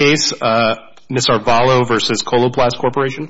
Ms. Arevalo v. Coloplast Corporation.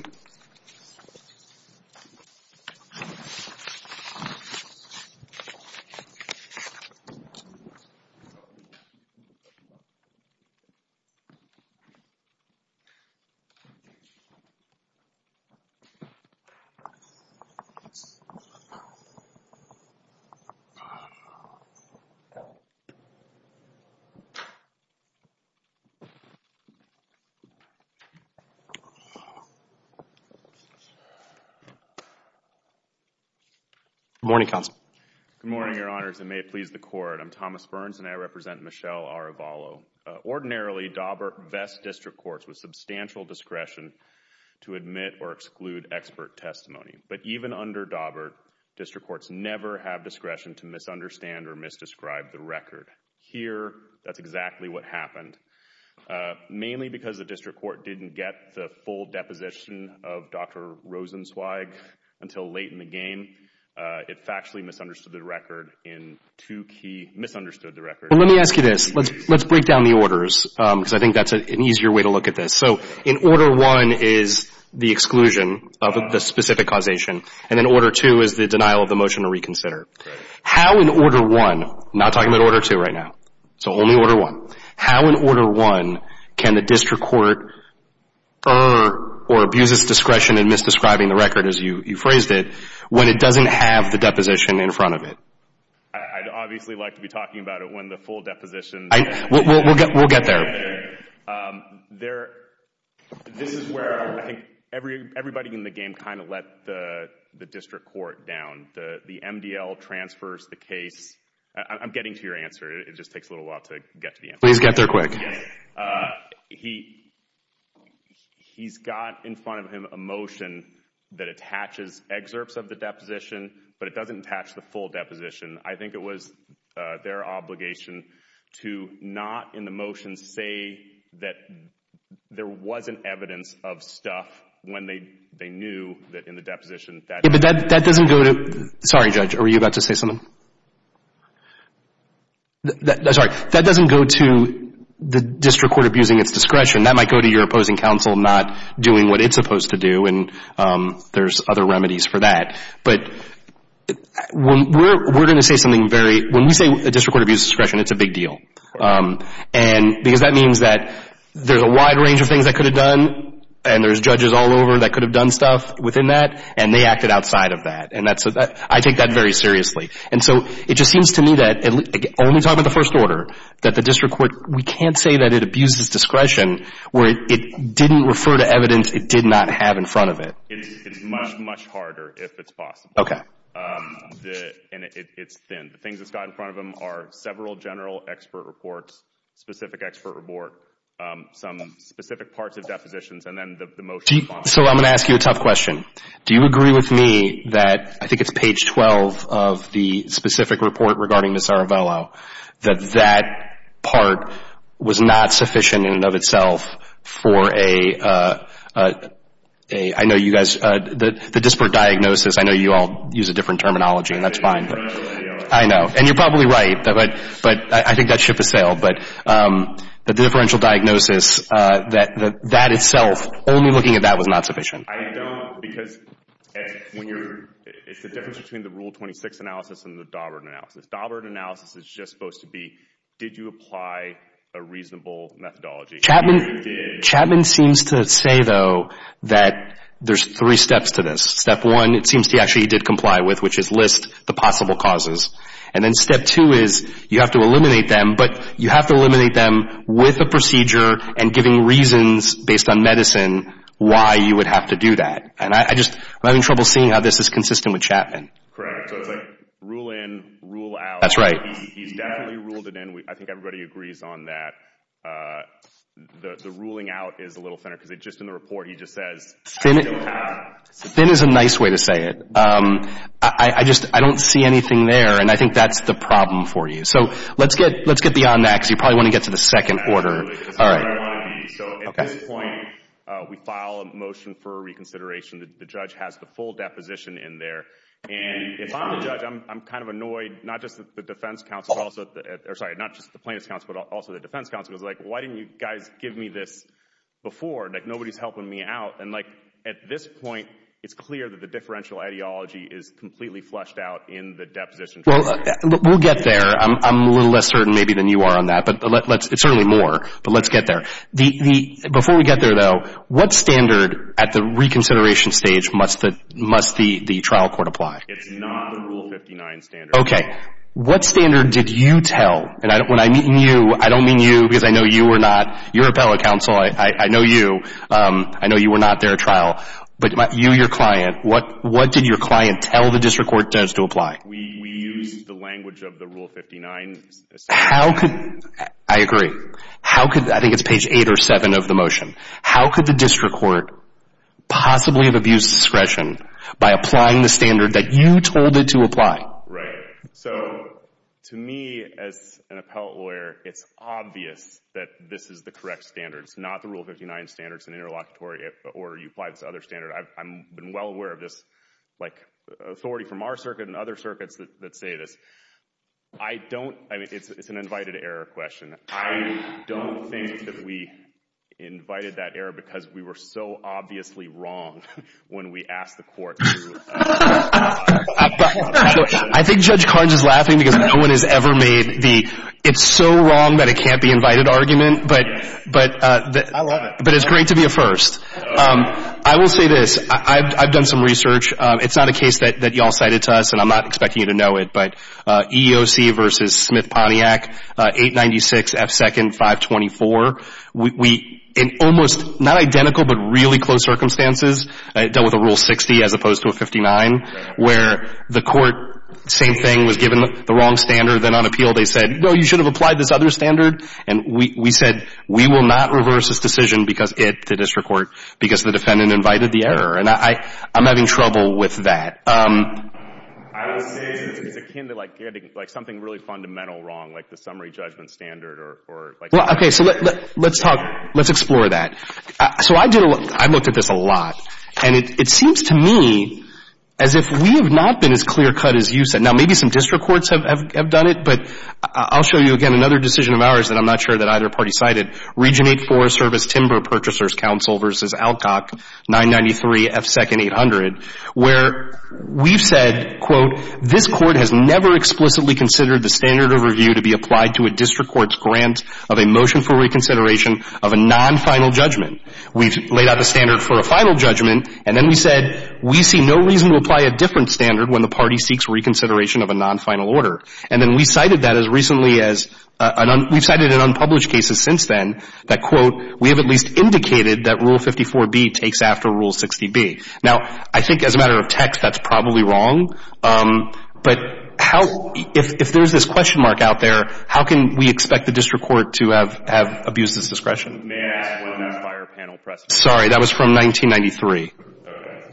Good morning, Your Honors, and may it please the Court, I'm Thomas Burns and I represent Michelle Arevalo. Ordinarily, Daubert vests district courts with substantial discretion to admit or exclude expert testimony, but even under Daubert, district courts never have discretion to misunderstand or misdescribe the record. Here, that's exactly what happened. Mainly because the district court didn't get the full deposition of Dr. Rosenzweig until late in the game, it factually misunderstood the record in two key — misunderstood the record. Well, let me ask you this. Let's break down the orders, because I think that's an easier way to look at this. So in Order 1 is the exclusion of the specific causation, and in Order 2 is the denial of the motion to reconsider. How in Order 1 — I'm not talking about Order 2 right now, so only Order 1 — how in Order 1 can the district court err or abuse its discretion in misdescribing the record, as you phrased it, when it doesn't have the deposition in front of it? I'd obviously like to be talking about it when the full deposition — We'll get there. There — this is where I think everybody in the game kind of let the district court down. The MDL transfers the case — I'm getting to your answer. It just takes a little while to get to the answer. Please get there quick. Yes. He's got in front of him a motion that attaches excerpts of the deposition, but it doesn't attach the full deposition. I think it was their obligation to not, in the motion, say that there wasn't evidence of stuff when they knew that in the deposition — Yeah, but that doesn't go to — sorry, Judge, were you about to say something? Sorry. That doesn't go to the district court abusing its discretion. That might go to your opposing counsel not doing what it's supposed to do, and there's other remedies for that. But we're going to say something very — when we say a district court abuses discretion, it's a big deal, because that means that there's a wide range of things that could have done, and there's judges all over that could have done stuff within that, and they acted outside of that. And I take that very seriously. And so it just seems to me that, only talking about the first order, that the district court — we can't say that it abuses discretion where it didn't refer to evidence it did not have in front of it. It's much, much harder if it's possible. Okay. And it's thin. The things it's got in front of them are several general expert reports, specific expert report, some specific parts of depositions, and then the motions follow. So I'm going to ask you a tough question. Do you agree with me that — I think it's page 12 of the specific report regarding Ms. Aravello — that that part was not sufficient in and of itself for a — I know you guys — the disparate diagnosis. I know you all use a different terminology, and that's fine. I know. And you're probably right. But I think that ship has sailed. But the differential diagnosis, that itself, only looking at that, was not sufficient. I don't, because when you're — it's the difference between the Rule 26 analysis and the Daubert analysis. The Daubert analysis is just supposed to be, did you apply a reasonable methodology? Chapman — Chapman seems to say, though, that there's three steps to this. Step one, it seems he actually did comply with, which is list the possible causes. And then step two is, you have to eliminate them, but you have to eliminate them with a procedure and giving reasons, based on medicine, why you would have to do that. And I just — I'm having trouble seeing how this is consistent with Chapman. Correct. So it's like, rule in, rule out. That's right. He's definitely ruled it in. I think everybody agrees on that. The ruling out is a little thinner, because it just — in the report, he just says, you don't have — Thin is a nice way to say it. I just — I don't see anything there, and I think that's the problem for you. So let's get — let's get beyond that, because you probably want to get to the second order. All right. Because that's where I want to be. So at this point, we file a motion for reconsideration. The judge has the full deposition in there, and if I'm the judge, I'm kind of annoyed not just that the defense counsel also — or, sorry, not just the plaintiff's counsel, but also the defense counsel. It's like, why didn't you guys give me this before? Like, nobody's helping me out. And, like, at this point, it's clear that the differential ideology is completely flushed out in the deposition. Well, we'll get there. I'm a little less certain maybe than you are on that, but let's — it's certainly more, but let's get there. Before we get there, though, what standard at the reconsideration stage must the trial court apply? It's not the Rule 59 standard. OK. What standard did you tell — and when I mean you, I don't mean you, because I know you were not — you're appellate counsel. I know you. I know you were not there at trial. But you, your client, what did your client tell the district court to ask to apply? We used the language of the Rule 59. How could — I agree. How could — I think it's page 8 or 7 of the motion. How could the district court possibly have abused discretion by applying the standard that you told it to apply? Right. So, to me, as an appellate lawyer, it's obvious that this is the correct standard. It's not the Rule 59 standard. It's an interlocutory order. You apply this other standard. I've been well aware of this, like, authority from our circuit and other circuits that say this. I don't — I mean, it's an invited error question. I don't think that we invited that error because we were so obviously wrong when we asked the court to apply the standard. I think Judge Carnes is laughing because no one has ever made the it's-so-wrong-that-it-can't-be-invited argument. But — I love it. But it's great to be a first. I will say this. I've done some research. It's not a case that y'all cited to us, and I'm not expecting you to know it. But EEOC v. Smith-Pontiac, 896 F. 2nd 524, we — in almost not identical but really close circumstances, dealt with a Rule 60 as opposed to a 59, where the court — same thing, was given the wrong standard, then on appeal they said, no, you should have applied this other standard. And we said, we will not reverse this decision because it — the district court — because the defendant invited the error. And I'm having trouble with that. I would say it's akin to, like, getting, like, something really fundamental wrong, like the summary judgment standard or — Well, okay. So let's talk — let's explore that. So I did a lot — I looked at this a lot, and it seems to me as if we have not been as clear-cut as you said. Now, maybe some district courts have done it, but I'll show you, again, another decision of ours that I'm not sure that either party cited, Region 8 Forest Service Timber Purchasers Council v. Alcock, 993 F. 2nd 800, where we've said, quote, this court has never explicitly considered the standard of review to be applied to a district court's grant of a motion for reconsideration of a non-final judgment. We've laid out the standard for a final judgment, and then we said, we see no reason to apply a different standard when the party seeks reconsideration of a non-final order. And then we cited that as recently as — we've cited in unpublished cases since then that, quote, we have at least indicated that Rule 54B takes after Rule 60B. Now, I think as a matter of text, that's probably wrong, but how — if there's this question mark out there, how can we expect the district court to have abused this discretion? May I ask one of those fire panel questions? Sorry. That was from 1993. Okay.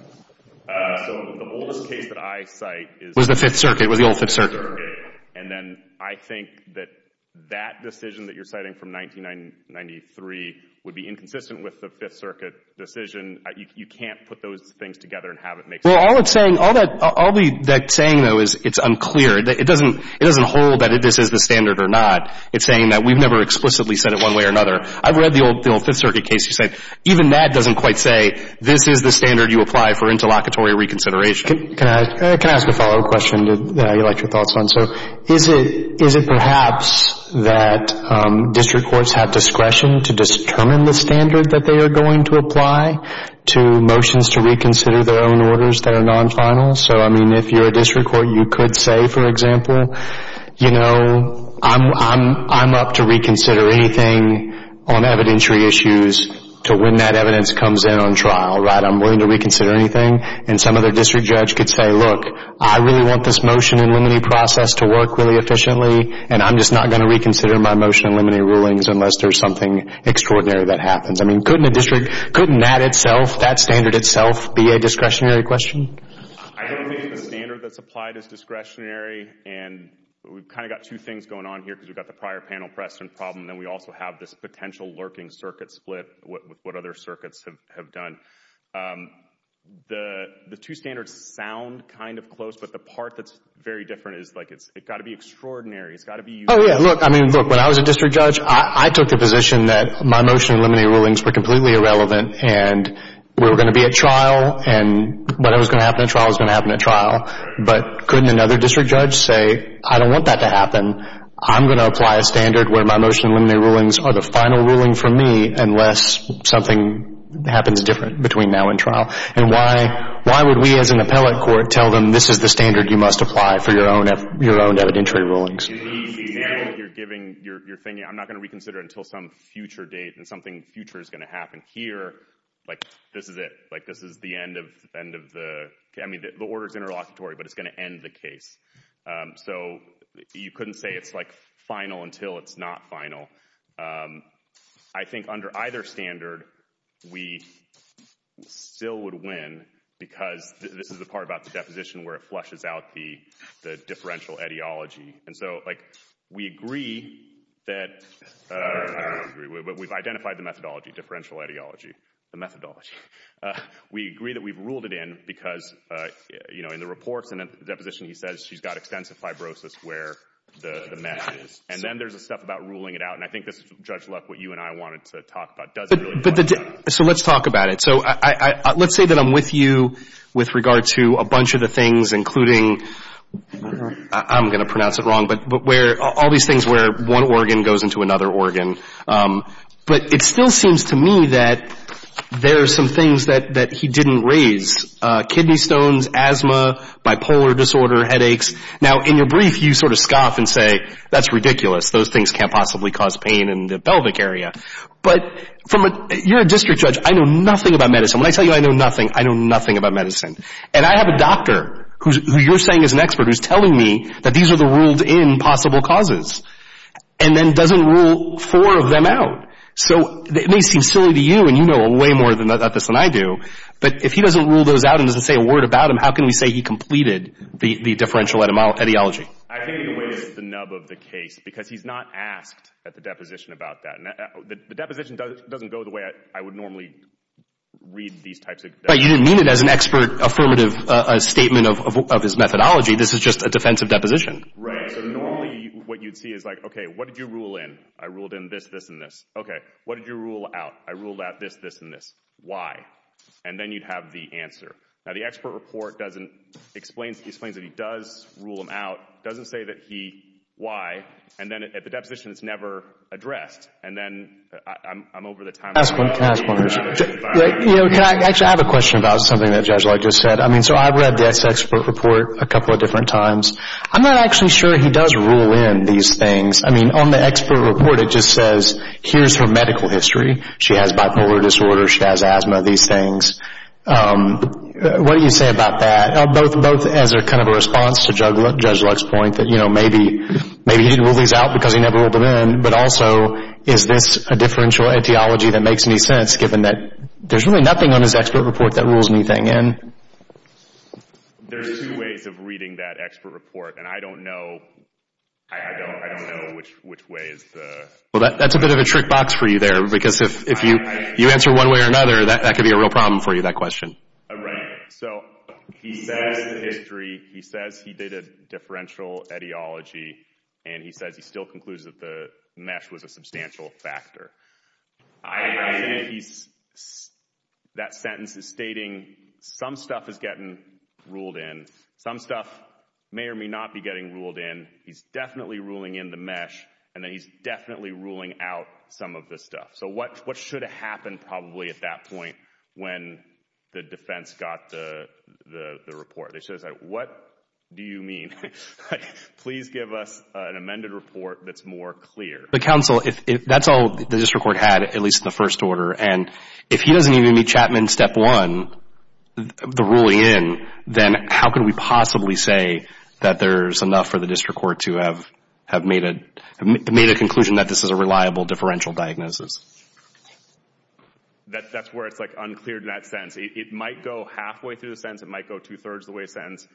So the oldest case that I cite is — Was the Fifth Circuit. It was the Old Fifth Circuit. And then I think that that decision that you're citing from 1993 would be inconsistent with the Fifth Circuit decision. You can't put those things together and have it make sense. Well, all it's saying — all that — all that saying, though, is it's unclear. It doesn't — it doesn't hold that this is the standard or not. It's saying that we've never explicitly said it one way or another. I've read the Old Fifth Circuit case that said even that doesn't quite say this is the standard you apply for interlocutory reconsideration. Can I ask a follow-up question that I'd like your thoughts on? So is it — is it perhaps that district courts have discretion to determine the standard that they are going to apply to motions to reconsider their own orders that are non-final? So I mean, if you're a district court, you could say, for example, you know, I'm up to reconsider anything on evidentiary issues to when that evidence comes in on trial, right? I'm willing to reconsider anything. And some other district judge could say, look, I really want this motion in limine process to work really efficiently, and I'm just not going to reconsider my motion in limine rulings unless there's something extraordinary that happens. I mean, couldn't a district — couldn't that itself, that standard itself, be a discretionary question? I don't think it's the standard that's applied as discretionary. And we've kind of got two things going on here because we've got the prior panel precedent problem, and then we also have this potential lurking circuit split with what other circuits have done. The two standards sound kind of close, but the part that's very different is like it's — it's got to be extraordinary. It's got to be useful. Oh, yeah. Look, I mean, look, when I was a district judge, I took the position that my motion in limine rulings were completely irrelevant, and we were going to be at trial, and what was going to happen at trial was going to happen at trial. But couldn't another district judge say, I don't want that to happen. I'm going to apply a standard where my motion in limine rulings are the final ruling for me unless something happens different between now and trial? And why would we as an appellate court tell them this is the standard you must apply for your own evidentiary rulings? You're giving — you're thinking, I'm not going to reconsider until some future date and something future is going to happen here. Like this is it. Like this is the end of the — I mean, the order's interlocutory, but it's going to end the case. So you couldn't say it's like final until it's not final. I think under either standard, we still would win because this is the part about the deposition where it flushes out the differential ideology. And so, like, we agree that — I don't agree, but we've identified the methodology, differential ideology, the methodology. We agree that we've ruled it in because, you know, in the reports and in the deposition, he says she's got extensive fibrosis where the mesh is. And then there's the stuff about ruling it out. And I think this is, Judge Luck, what you and I wanted to talk about. Does it really — But the — so let's talk about it. So I — let's say that I'm with you with regard to a bunch of the things, including — I'm going to pronounce it wrong, but where — all these things where one organ goes into another organ. But it still seems to me that there are some things that he didn't raise. Kidney stones, asthma, bipolar disorder, headaches. Now, in your brief, you sort of scoff and say, that's ridiculous. Those things can't possibly cause pain in the pelvic area. But from a — you're a district judge. I know nothing about medicine. When I tell you I know nothing, I know nothing about medicine. And I have a doctor who you're saying is an expert who's telling me that these are the ruled-in possible causes and then doesn't rule four of them out. So it may seem silly to you, and you know way more about this than I do, but if he doesn't rule those out and doesn't say a word about them, how can we say he completed the differential etiology? I think he was the nub of the case, because he's not asked at the deposition about that. The deposition doesn't go the way I would normally read these types of — Right. You didn't mean it as an expert affirmative statement of his methodology. This is just a defensive deposition. Right. So normally, what you'd see is like, OK, what did you rule in? I ruled in this, this, and this. OK. What did you rule out? I ruled out this, this, and this. Why? And then you'd have the answer. Now, the expert report doesn't explain — he explains that he does rule them out, doesn't say that he — why, and then at the deposition, it's never addressed. And then I'm over the top — Can I ask one? Can I ask one? You know, can I — actually, I have a question about something that Judge Locke just said. I mean, so I've read the expert report a couple of different times. I'm not actually sure he does rule in these things. I mean, on the expert report, it just says, here's her medical history. She has bipolar disorder. She has asthma, these things. What do you say about that, both as a kind of a response to Judge Locke's point that, you know, maybe he didn't rule these out because he never ruled them in, but also, is this a differential etiology that makes any sense, given that there's really nothing on his expert report that rules anything in? There's two ways of reading that expert report, and I don't know — I don't know which way is the — Well, that's a bit of a trick box for you there, because if you answer one way or another, that could be a real problem for you, that question. Right. So, he says the history, he says he did a differential etiology, and he says he still concludes that the mesh was a substantial factor. I think he's — that sentence is stating some stuff is getting ruled in. Some stuff may or may not be getting ruled in. He's definitely ruling in the mesh, and then he's definitely ruling out some of the stuff. So, what should have happened, probably, at that point when the defense got the report? They should have said, what do you mean? Please give us an amended report that's more clear. But, counsel, that's all the district court had, at least in the first order, and if he doesn't even meet Chapman's step one, the ruling in, then how could we possibly say that there's enough for the district court to have made a conclusion that this is a reliable differential diagnosis? That's where it's, like, unclear in that sentence. It might go halfway through the sentence. It might go two-thirds of the way through the sentence.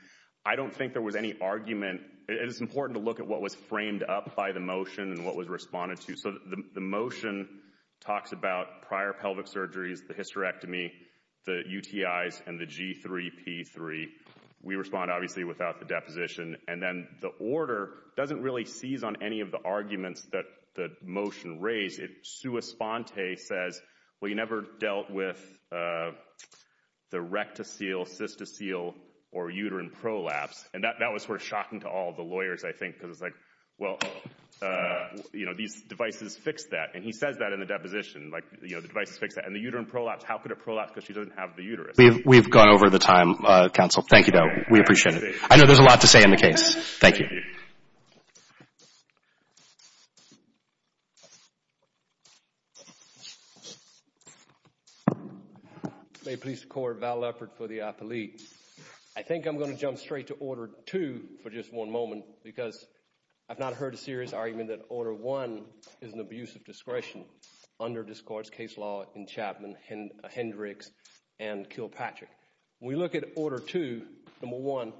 I don't think there was any argument. It is important to look at what was framed up by the motion and what was responded to. So, the motion talks about prior pelvic surgeries, the hysterectomy, the UTIs, and the G3P3. We respond, obviously, without the deposition. And then the order doesn't really seize on any of the arguments that the motion raised. It sui sponte says, well, you never dealt with the rectocele, cystocele, or uterine prolapse. And that was sort of shocking to all the lawyers, I think, because it's like, well, you know, these devices fix that. And he says that in the deposition. Like, you know, the devices fix that. And the uterine prolapse, how could it prolapse because she doesn't have the uterus? We've gone over the time, counsel. Thank you, though. We appreciate it. I know there's a lot to say on the case. Thank you. Thank you. May it please the court, Val Leffert for the athlete. I think I'm going to jump straight to order two for just one moment because I've not heard a serious argument that order one is an abuse of discretion under this court's case law in Chapman, Hendricks, and Kilpatrick. When we look at order two, number one,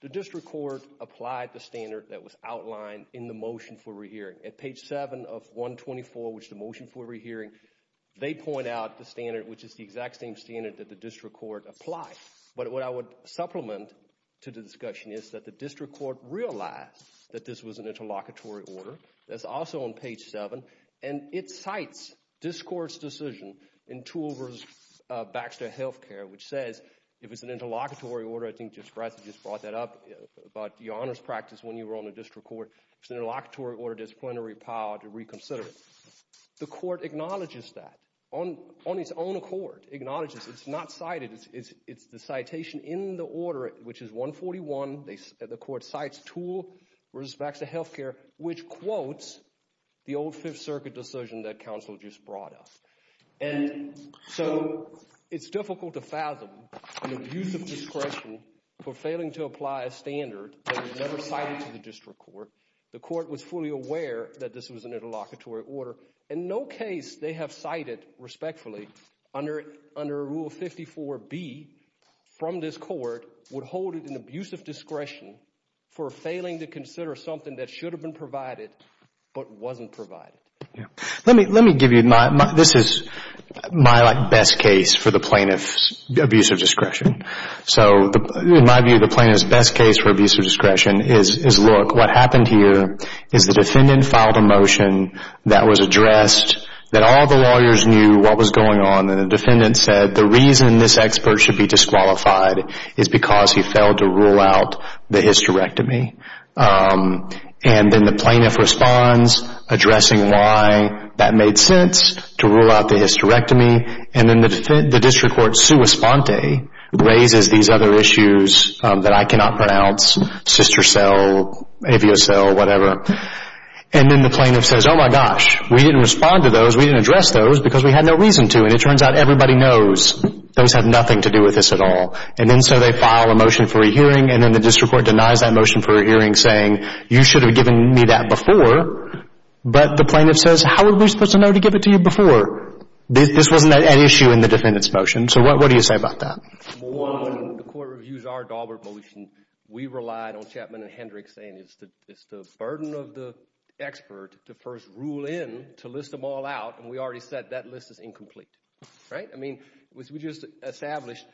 the district court applied the standard that was outlined in the motion for re-hearing. At page seven of 124, which is the motion for re-hearing, they point out the standard, which is the exact same standard that the district court applied. But what I would supplement to the discussion is that the district court realized that this was an interlocutory order that's also on page seven, and it cites this court's decision in Toole v. Baxter Health Care, which says, if it's an interlocutory order, I think Justice Bradshaw just brought that up about your honors practice when you were on the district court, it's an interlocutory order disciplinary power to reconsider it. The court acknowledges that on its own accord, acknowledges it's not cited, it's the citation in the order, which is 141, the court cites Toole v. Baxter Health Care, which quotes the old Fifth Circuit decision that counsel just brought up. And so it's difficult to fathom an abuse of discretion for failing to apply a standard that was never cited to the district court. The court was fully aware that this was an interlocutory order. In no case they have cited, respectfully, under Rule 54B from this court would hold an abuse of discretion for failing to consider something that should have been provided but wasn't provided. Yeah. Let me give you my... This is my best case for the plaintiff's abuse of discretion. So in my view, the plaintiff's best case for abuse of discretion is, look, what happened here is the defendant filed a motion that was addressed, that all the lawyers knew what was going on, and the defendant said the reason this expert should be disqualified is because he failed to rule out the hysterectomy. And then the plaintiff responds, addressing why that made sense to rule out the hysterectomy, and then the district court, sua sponte, raises these other issues that I cannot pronounce, sister cell, avia cell, whatever. And then the plaintiff says, oh my gosh, we didn't respond to those, we didn't address those because we had no reason to, and it turns out everybody knows those have nothing to do with this at all. And then so they file a motion for a hearing, and then the district court denies that motion for a hearing, saying you should have given me that before. But the plaintiff says, how are we supposed to know to give it to you before? This wasn't an issue in the defendant's motion. So what do you say about that? Well, one, the court reviews our Daubert motion. We relied on Chapman and Hendricks saying it's the burden of the expert to first rule in to list them all out, and we already said that list is incomplete, right? I mean, we just established,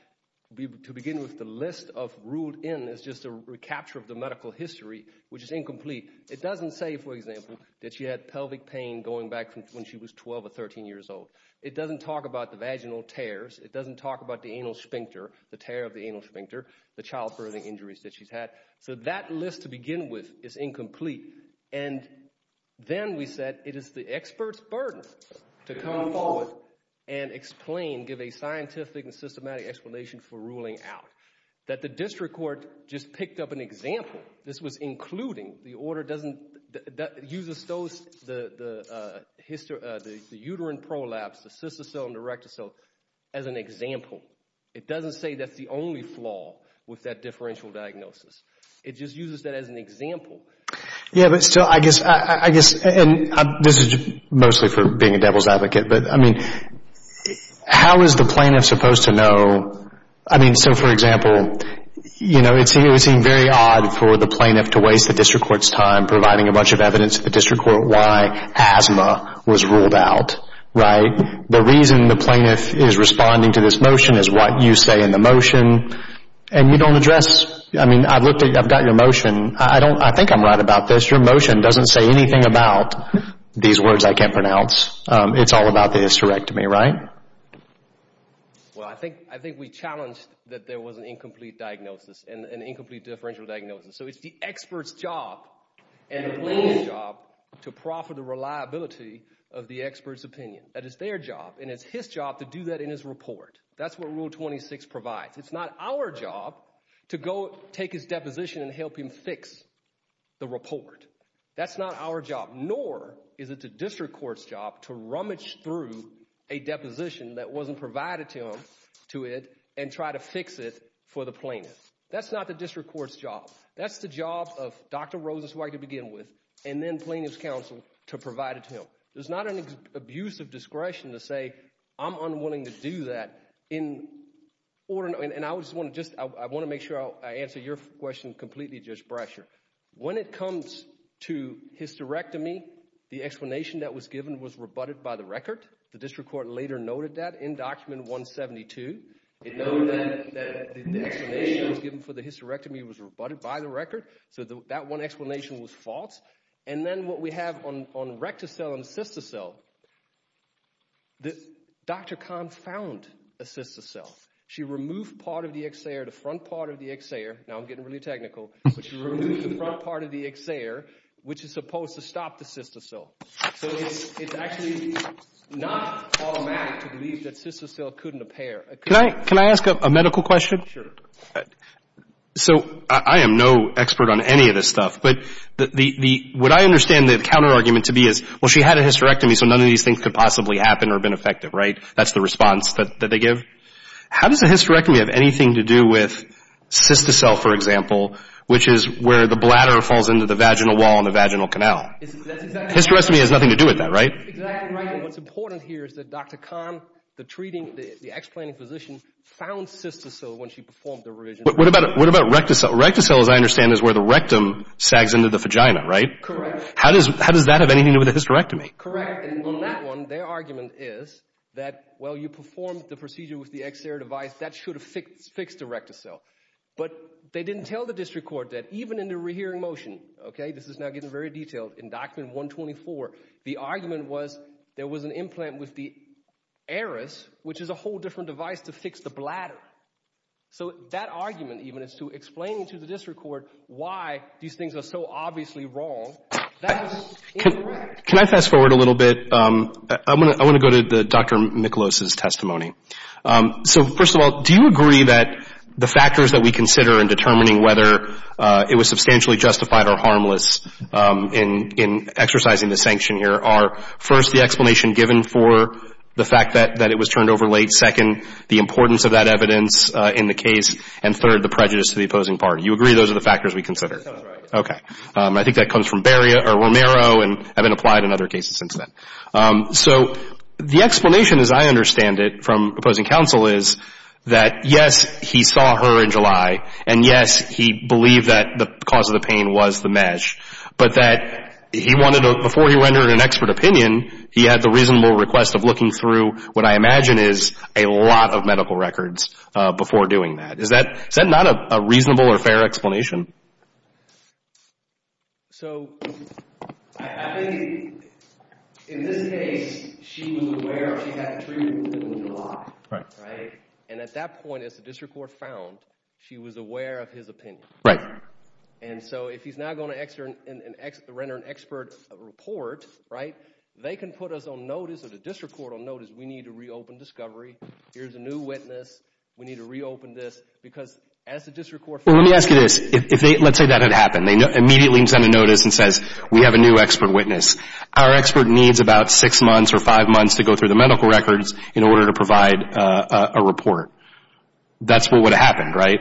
to begin with, the list of ruled in is just a recapture of the medical history, which is incomplete. It doesn't say, for example, that she had pelvic pain going back from when she was 12 or 13 years old. It doesn't talk about the vaginal tears. It doesn't talk about the anal sphincter, the tear of the anal sphincter, the child birthing injuries that she's had. So that list to begin with is incomplete. And then we said it is the expert's burden to come forward and explain, give a scientific and systematic explanation for ruling out. That the district court just picked up an example. This was including, the order doesn't, that uses those, the uterine prolapse, the sysocele and the rectocele as an example. It doesn't say that's the only flaw with that differential diagnosis. It just uses that as an example. Yeah, but still, I guess, and this is mostly for being a devil's advocate. But I mean, how is the plaintiff supposed to know? I mean, so for example, it would seem very odd for the plaintiff to waste the district court's time providing a bunch of evidence to the district court why asthma was ruled out, right? The reason the plaintiff is responding to this motion is what you say in the motion. And you don't address. I mean, I've looked at, I've got your motion. I don't, I think I'm right about this. Your motion doesn't say anything about these words I can't pronounce. It's all about the hysterectomy, right? Well, I think, I think we challenged that there was an incomplete diagnosis, an incomplete differential diagnosis. So it's the expert's job and the plaintiff's job to profit the reliability of the expert's opinion. That is their job. And it's his job to do that in his report. That's what Rule 26 provides. It's not our job to go take his deposition and help him fix the report. That's not our job, nor is it the district court's job to rummage through a deposition that wasn't provided to him to it and try to fix it for the plaintiff. That's not the district court's job. That's the job of Dr. Rosas-White to begin with, and then plaintiff's counsel to provide it to him. So, there's not an abuse of discretion to say I'm unwilling to do that in order, and I just want to just, I want to make sure I answer your question completely, Judge Brasher. When it comes to hysterectomy, the explanation that was given was rebutted by the record. The district court later noted that in Document 172. It noted that the explanation given for the hysterectomy was rebutted by the record. So that one explanation was false. And then what we have on rectocell and cystocell, Dr. Kahn found a cystocell. She removed part of the exer, the front part of the exer, now I'm getting really technical, but she removed the front part of the exer, which is supposed to stop the cystocell. So, it's actually not automatic to believe that cystocell couldn't appear. Can I ask a medical question? Sure. So, I am no expert on any of this stuff, but the, what I understand the counterargument to be is, well, she had a hysterectomy, so none of these things could possibly happen or have been effective, right? That's the response that they give. How does a hysterectomy have anything to do with cystocell, for example, which is where the bladder falls into the vaginal wall and the vaginal canal? Hysterectomy has nothing to do with that, right? Exactly right. What's important here is that Dr. Kahn, the treating, the explaining physician, found What about rectocell? Rectocell, as I understand, is where the rectum sags into the vagina, right? Correct. How does that have anything to do with a hysterectomy? Correct. And on that one, their argument is that, well, you performed the procedure with the exer device, that should have fixed the rectocell. But they didn't tell the district court that, even in the rehearing motion, okay, this is now getting very detailed, in document 124, the argument was there was an implant with the aorus, which is a whole different device to fix the bladder. So that argument, even, is to explain to the district court why these things are so obviously wrong. That's incorrect. Can I fast forward a little bit? I want to go to Dr. Miklos' testimony. So, first of all, do you agree that the factors that we consider in determining whether it was substantially justified or harmless in exercising the sanction here are, first, the explanation given for the fact that it was turned over late, second, the importance of that evidence in the case, and third, the prejudice to the opposing party? You agree those are the factors we consider? That's right. Okay. I think that comes from Romero and has been applied in other cases since then. So the explanation, as I understand it, from opposing counsel is that, yes, he saw her in July, and yes, he believed that the cause of the pain was the mesh, but that he wanted to, before he rendered an expert opinion, he had the reasonable request of looking through what I imagine is a lot of medical records before doing that. Is that not a reasonable or fair explanation? So I think in this case, she was aware she had a treatment in July, right? And at that point, as the district court found, she was aware of his opinion. And so if he's now going to render an expert report, right, they can put us on notice or the district court will notice, we need to reopen discovery, here's a new witness, we need to reopen this. Because as the district court found... Well, let me ask you this. If they, let's say that had happened, they immediately send a notice and says, we have a new expert witness. Our expert needs about six months or five months to go through the medical records in order to provide a report. That's what would have happened, right?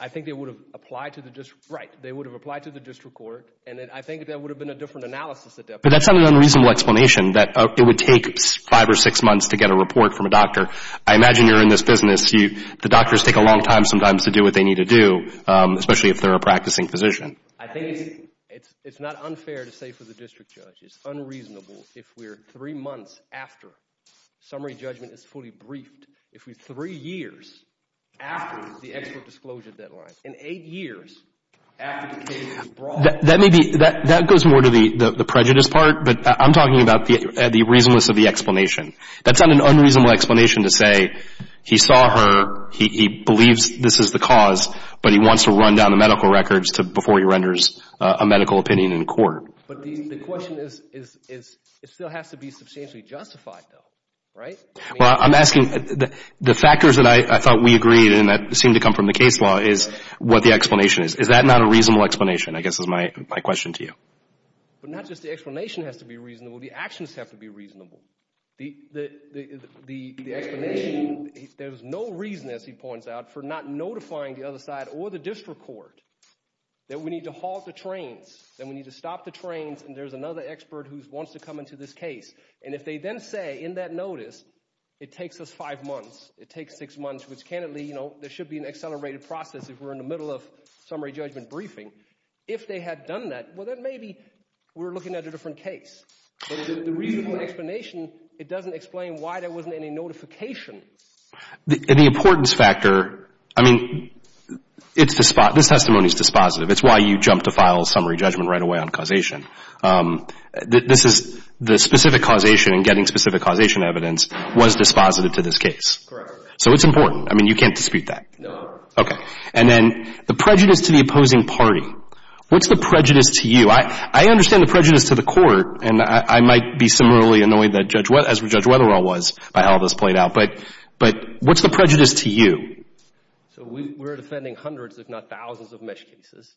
I think they would have applied to the district, right. They would have applied to the district court, and I think that would have been a different analysis at that point. But that's not an unreasonable explanation, that it would take five or six months to get a report from a doctor. I imagine you're in this business, the doctors take a long time sometimes to do what they need to do, especially if they're a practicing physician. I think it's not unfair to say for the district judge, it's unreasonable if we're three months after summary judgment is fully briefed, if we're three years after the expert disclosure deadline, in eight years after the case is brought... That may be, that goes more to the prejudice part, but I'm talking about the reasonableness of the explanation. That's not an unreasonable explanation to say, he saw her, he believes this is the cause, but he wants to run down the medical records before he renders a medical opinion in court. But the question is, it still has to be substantially justified though, right? Well, I'm asking, the factors that I thought we agreed and that seemed to come from the case law is what the explanation is. Is that not a reasonable explanation, I guess is my question to you? But not just the explanation has to be reasonable, the actions have to be reasonable. The explanation, there's no reason, as he points out, for not notifying the other side or the district court that we need to halt the trains, that we need to stop the trains and there's another expert who wants to come into this case. And if they then say in that notice, it takes us five months, it takes six months, which if they had done that, well, then maybe we're looking at a different case. But the reasonable explanation, it doesn't explain why there wasn't any notification. And the importance factor, I mean, this testimony is dispositive. It's why you jump to final summary judgment right away on causation. This is the specific causation and getting specific causation evidence was dispositive to this case. Correct. So it's important. I mean, you can't dispute that. No. Okay. And then the prejudice to the opposing party, what's the prejudice to you? I understand the prejudice to the court, and I might be similarly annoyed as Judge Wetherall was by how this played out, but what's the prejudice to you? So we're defending hundreds, if not thousands, of mesh cases.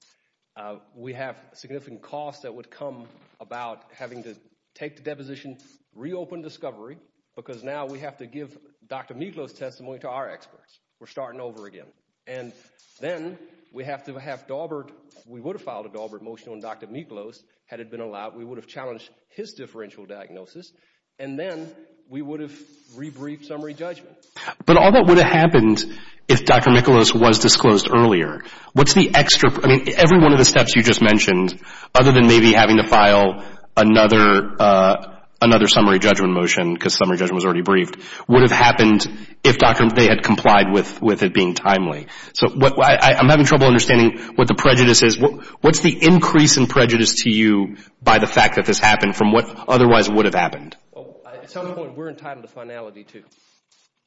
We have significant costs that would come about having to take the deposition, reopen discovery because now we have to give Dr. Miglos' testimony to our experts. We're starting over again. And then we have to have Daubert, we would have filed a Daubert motion on Dr. Miglos had it been allowed. We would have challenged his differential diagnosis, and then we would have re-briefed summary judgment. But all that would have happened if Dr. Miglos was disclosed earlier. What's the extra, I mean, every one of the steps you just mentioned, other than maybe having to file another summary judgment motion because summary judgment was already briefed, would have happened if Dr. Miglos had complied with it being timely. So I'm having trouble understanding what the prejudice is. What's the increase in prejudice to you by the fact that this happened from what otherwise would have happened? At some point, we're entitled to finality, too.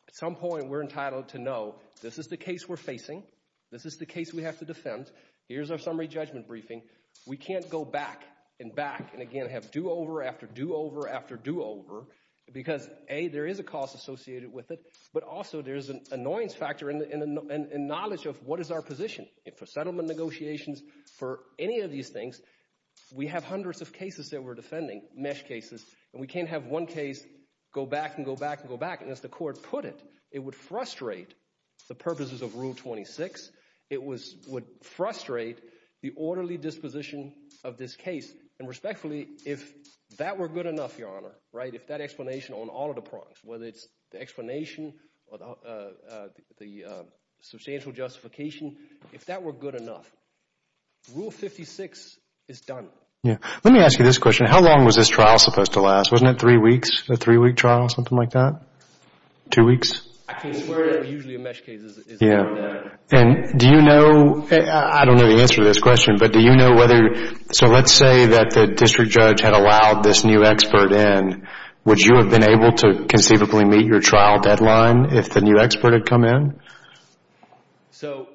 At some point, we're entitled to know this is the case we're facing, this is the case we have to defend, here's our summary judgment briefing. We can't go back and back and again have do-over after do-over after do-over because, A, there is a cost associated with it, but also there's an annoyance factor and knowledge of what is our position for settlement negotiations, for any of these things. We have hundreds of cases that we're defending, MeSH cases, and we can't have one case go back and go back and go back, and as the court put it, it would frustrate the purposes of Rule 26. It would frustrate the orderly disposition of this case, and respectfully, if that were whether it's the explanation or the substantial justification, if that were good enough, Rule 56 is done. Yeah. Let me ask you this question. How long was this trial supposed to last? Wasn't it three weeks, a three-week trial, something like that? Two weeks? I can't swear that usually a MeSH case is longer than that. Do you know, I don't know the answer to this question, but do you know whether, so let's say that the district judge had allowed this new expert in, would you have been able to conceivably meet your trial deadline if the new expert had come in? So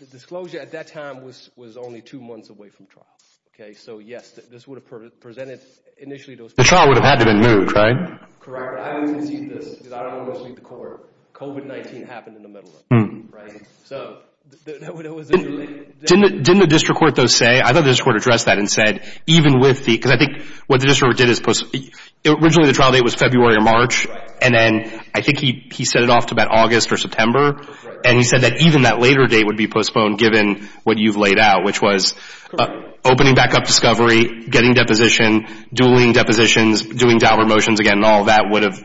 the disclosure at that time was only two months away from trial, okay? So yes, this would have presented initially those... The trial would have had to have been moved, right? Correct. But I always concede this, because I don't want to mislead the court. COVID-19 happened in the middle of it, right? So... Didn't the district court, though, say, I thought the district court addressed that and said, even with the... Because I think what the district court did is... Originally, the trial date was February or March, and then I think he set it off to about August or September, and he said that even that later date would be postponed given what you've laid out, which was opening back up discovery, getting deposition, dueling depositions, doing dialer motions again, and all of that would have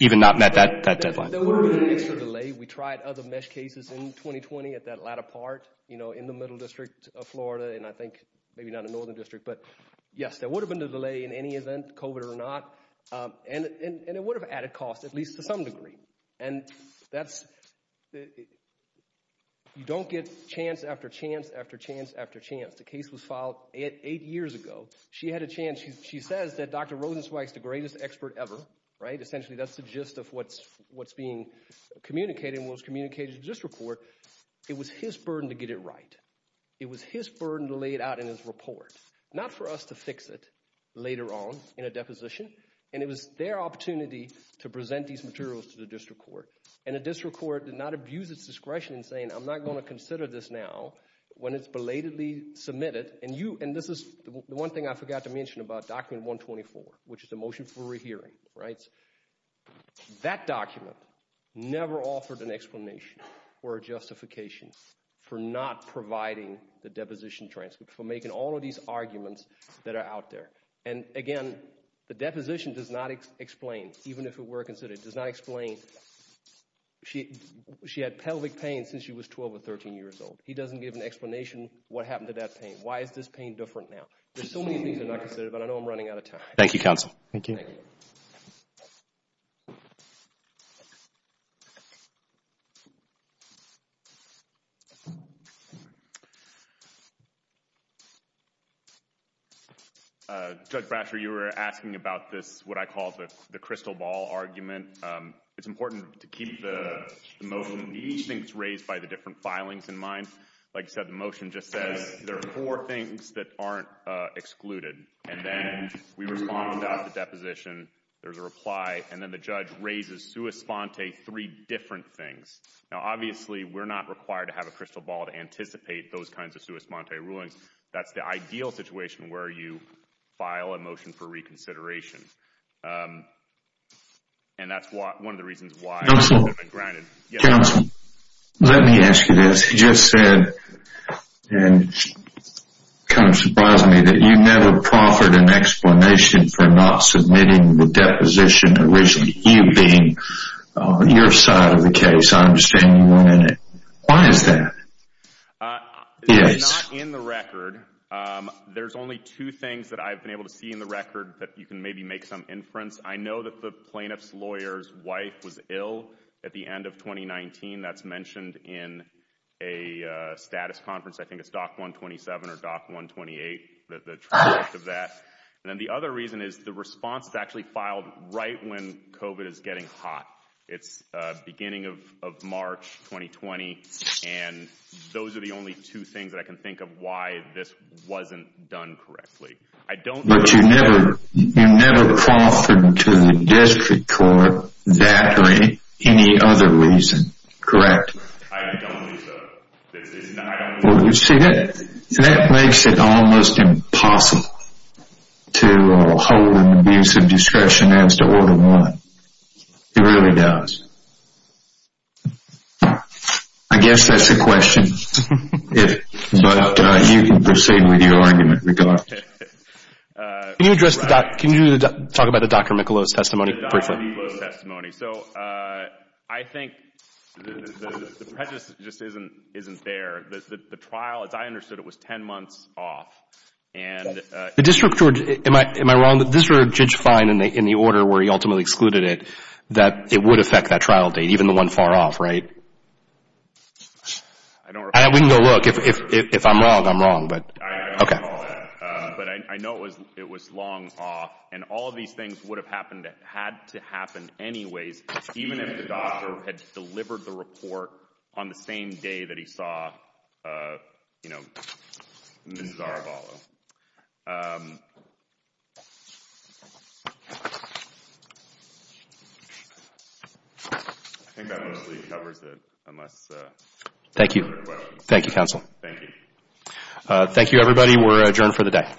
even not met that deadline. There would have been an extra delay. We tried other MeSH cases in 2020 at that latter part, you know, in the middle district of Florida, and I think maybe not in the northern district, but yes, there would have been a delay in any event, COVID or not, and it would have added cost, at least to some degree. And that's... You don't get chance after chance after chance after chance. The case was filed eight years ago. She had a chance. She says that Dr. Rosenzweig's the greatest expert ever, right? Essentially, that's the gist of what's being communicated and what was communicated in this report. It was his burden to get it right. It was his burden to lay it out in his report, not for us to fix it later on in a deposition, and it was their opportunity to present these materials to the district court, and the district court did not abuse its discretion in saying, I'm not going to consider this now when it's belatedly submitted, and you... And this is the one thing I forgot to mention about document 124, which is the motion for rehearing, right? That document never offered an explanation or a justification for not providing the deposition transcript, for making all of these arguments that are out there. And again, the deposition does not explain, even if it were considered, does not explain... She had pelvic pain since she was 12 or 13 years old. He doesn't give an explanation what happened to that pain. Why is this pain different now? There's so many things that are not considered, but I know I'm running out of time. Thank you, counsel. Thank you. Judge Bratcher, you were asking about this, what I call the crystal ball argument. It's important to keep the motion of these things raised by the different filings in mind. Like you said, the motion just says there are four things that aren't excluded, and then we respond without the deposition, there's a reply, and then the judge raises sua sponte three different things. Now, obviously, we're not required to have a crystal ball to anticipate those kinds of sua sponte rulings. That's the ideal situation where you file a motion for reconsideration, and that's one of the reasons why... Counsel, let me ask you this. You just said, and it kind of surprised me, that you never proffered an explanation for not submitting the deposition, originally, you being your side of the case. I understand you weren't in it. Why is that? It's not in the record. There's only two things that I've been able to see in the record that you can maybe make some inference. I know that the plaintiff's lawyer's wife was ill at the end of 2019. That's mentioned in a status conference, I think it's DOC 127 or DOC 128, the transcript of that. And then the other reason is the response is actually filed right when COVID is getting hot. It's beginning of March 2020, and those are the only two things that I can think of why this wasn't done correctly. I don't... But you never proffered to the district court that way, any other reason, correct? I don't believe so. Well, you see, that makes it almost impossible to hold an abuse of discretion as to order one. It really does. I guess that's a question, but you can proceed with your argument regardless. Can you address, can you talk about the Dr. Michelot's testimony briefly? The Dr. Michelot's testimony. So I think the prejudice just isn't there. The trial, as I understood it, was 10 months off. And... The district court, am I wrong, the district judge fined in the order where he ultimately excluded it that it would affect that trial date, even the one far off, right? I don't recall that. We can go look. If I'm wrong, I'm wrong, but... I don't recall that. But I know it was long off, and all of these things would have happened, had to happen anyways, even if the doctor had delivered the report on the same day that he saw, you know, Mrs. Arabalo. I think that mostly covers it, unless... Thank you. Thank you, counsel. Thank you. Thank you, everybody. Thank you. We're adjourned for the day.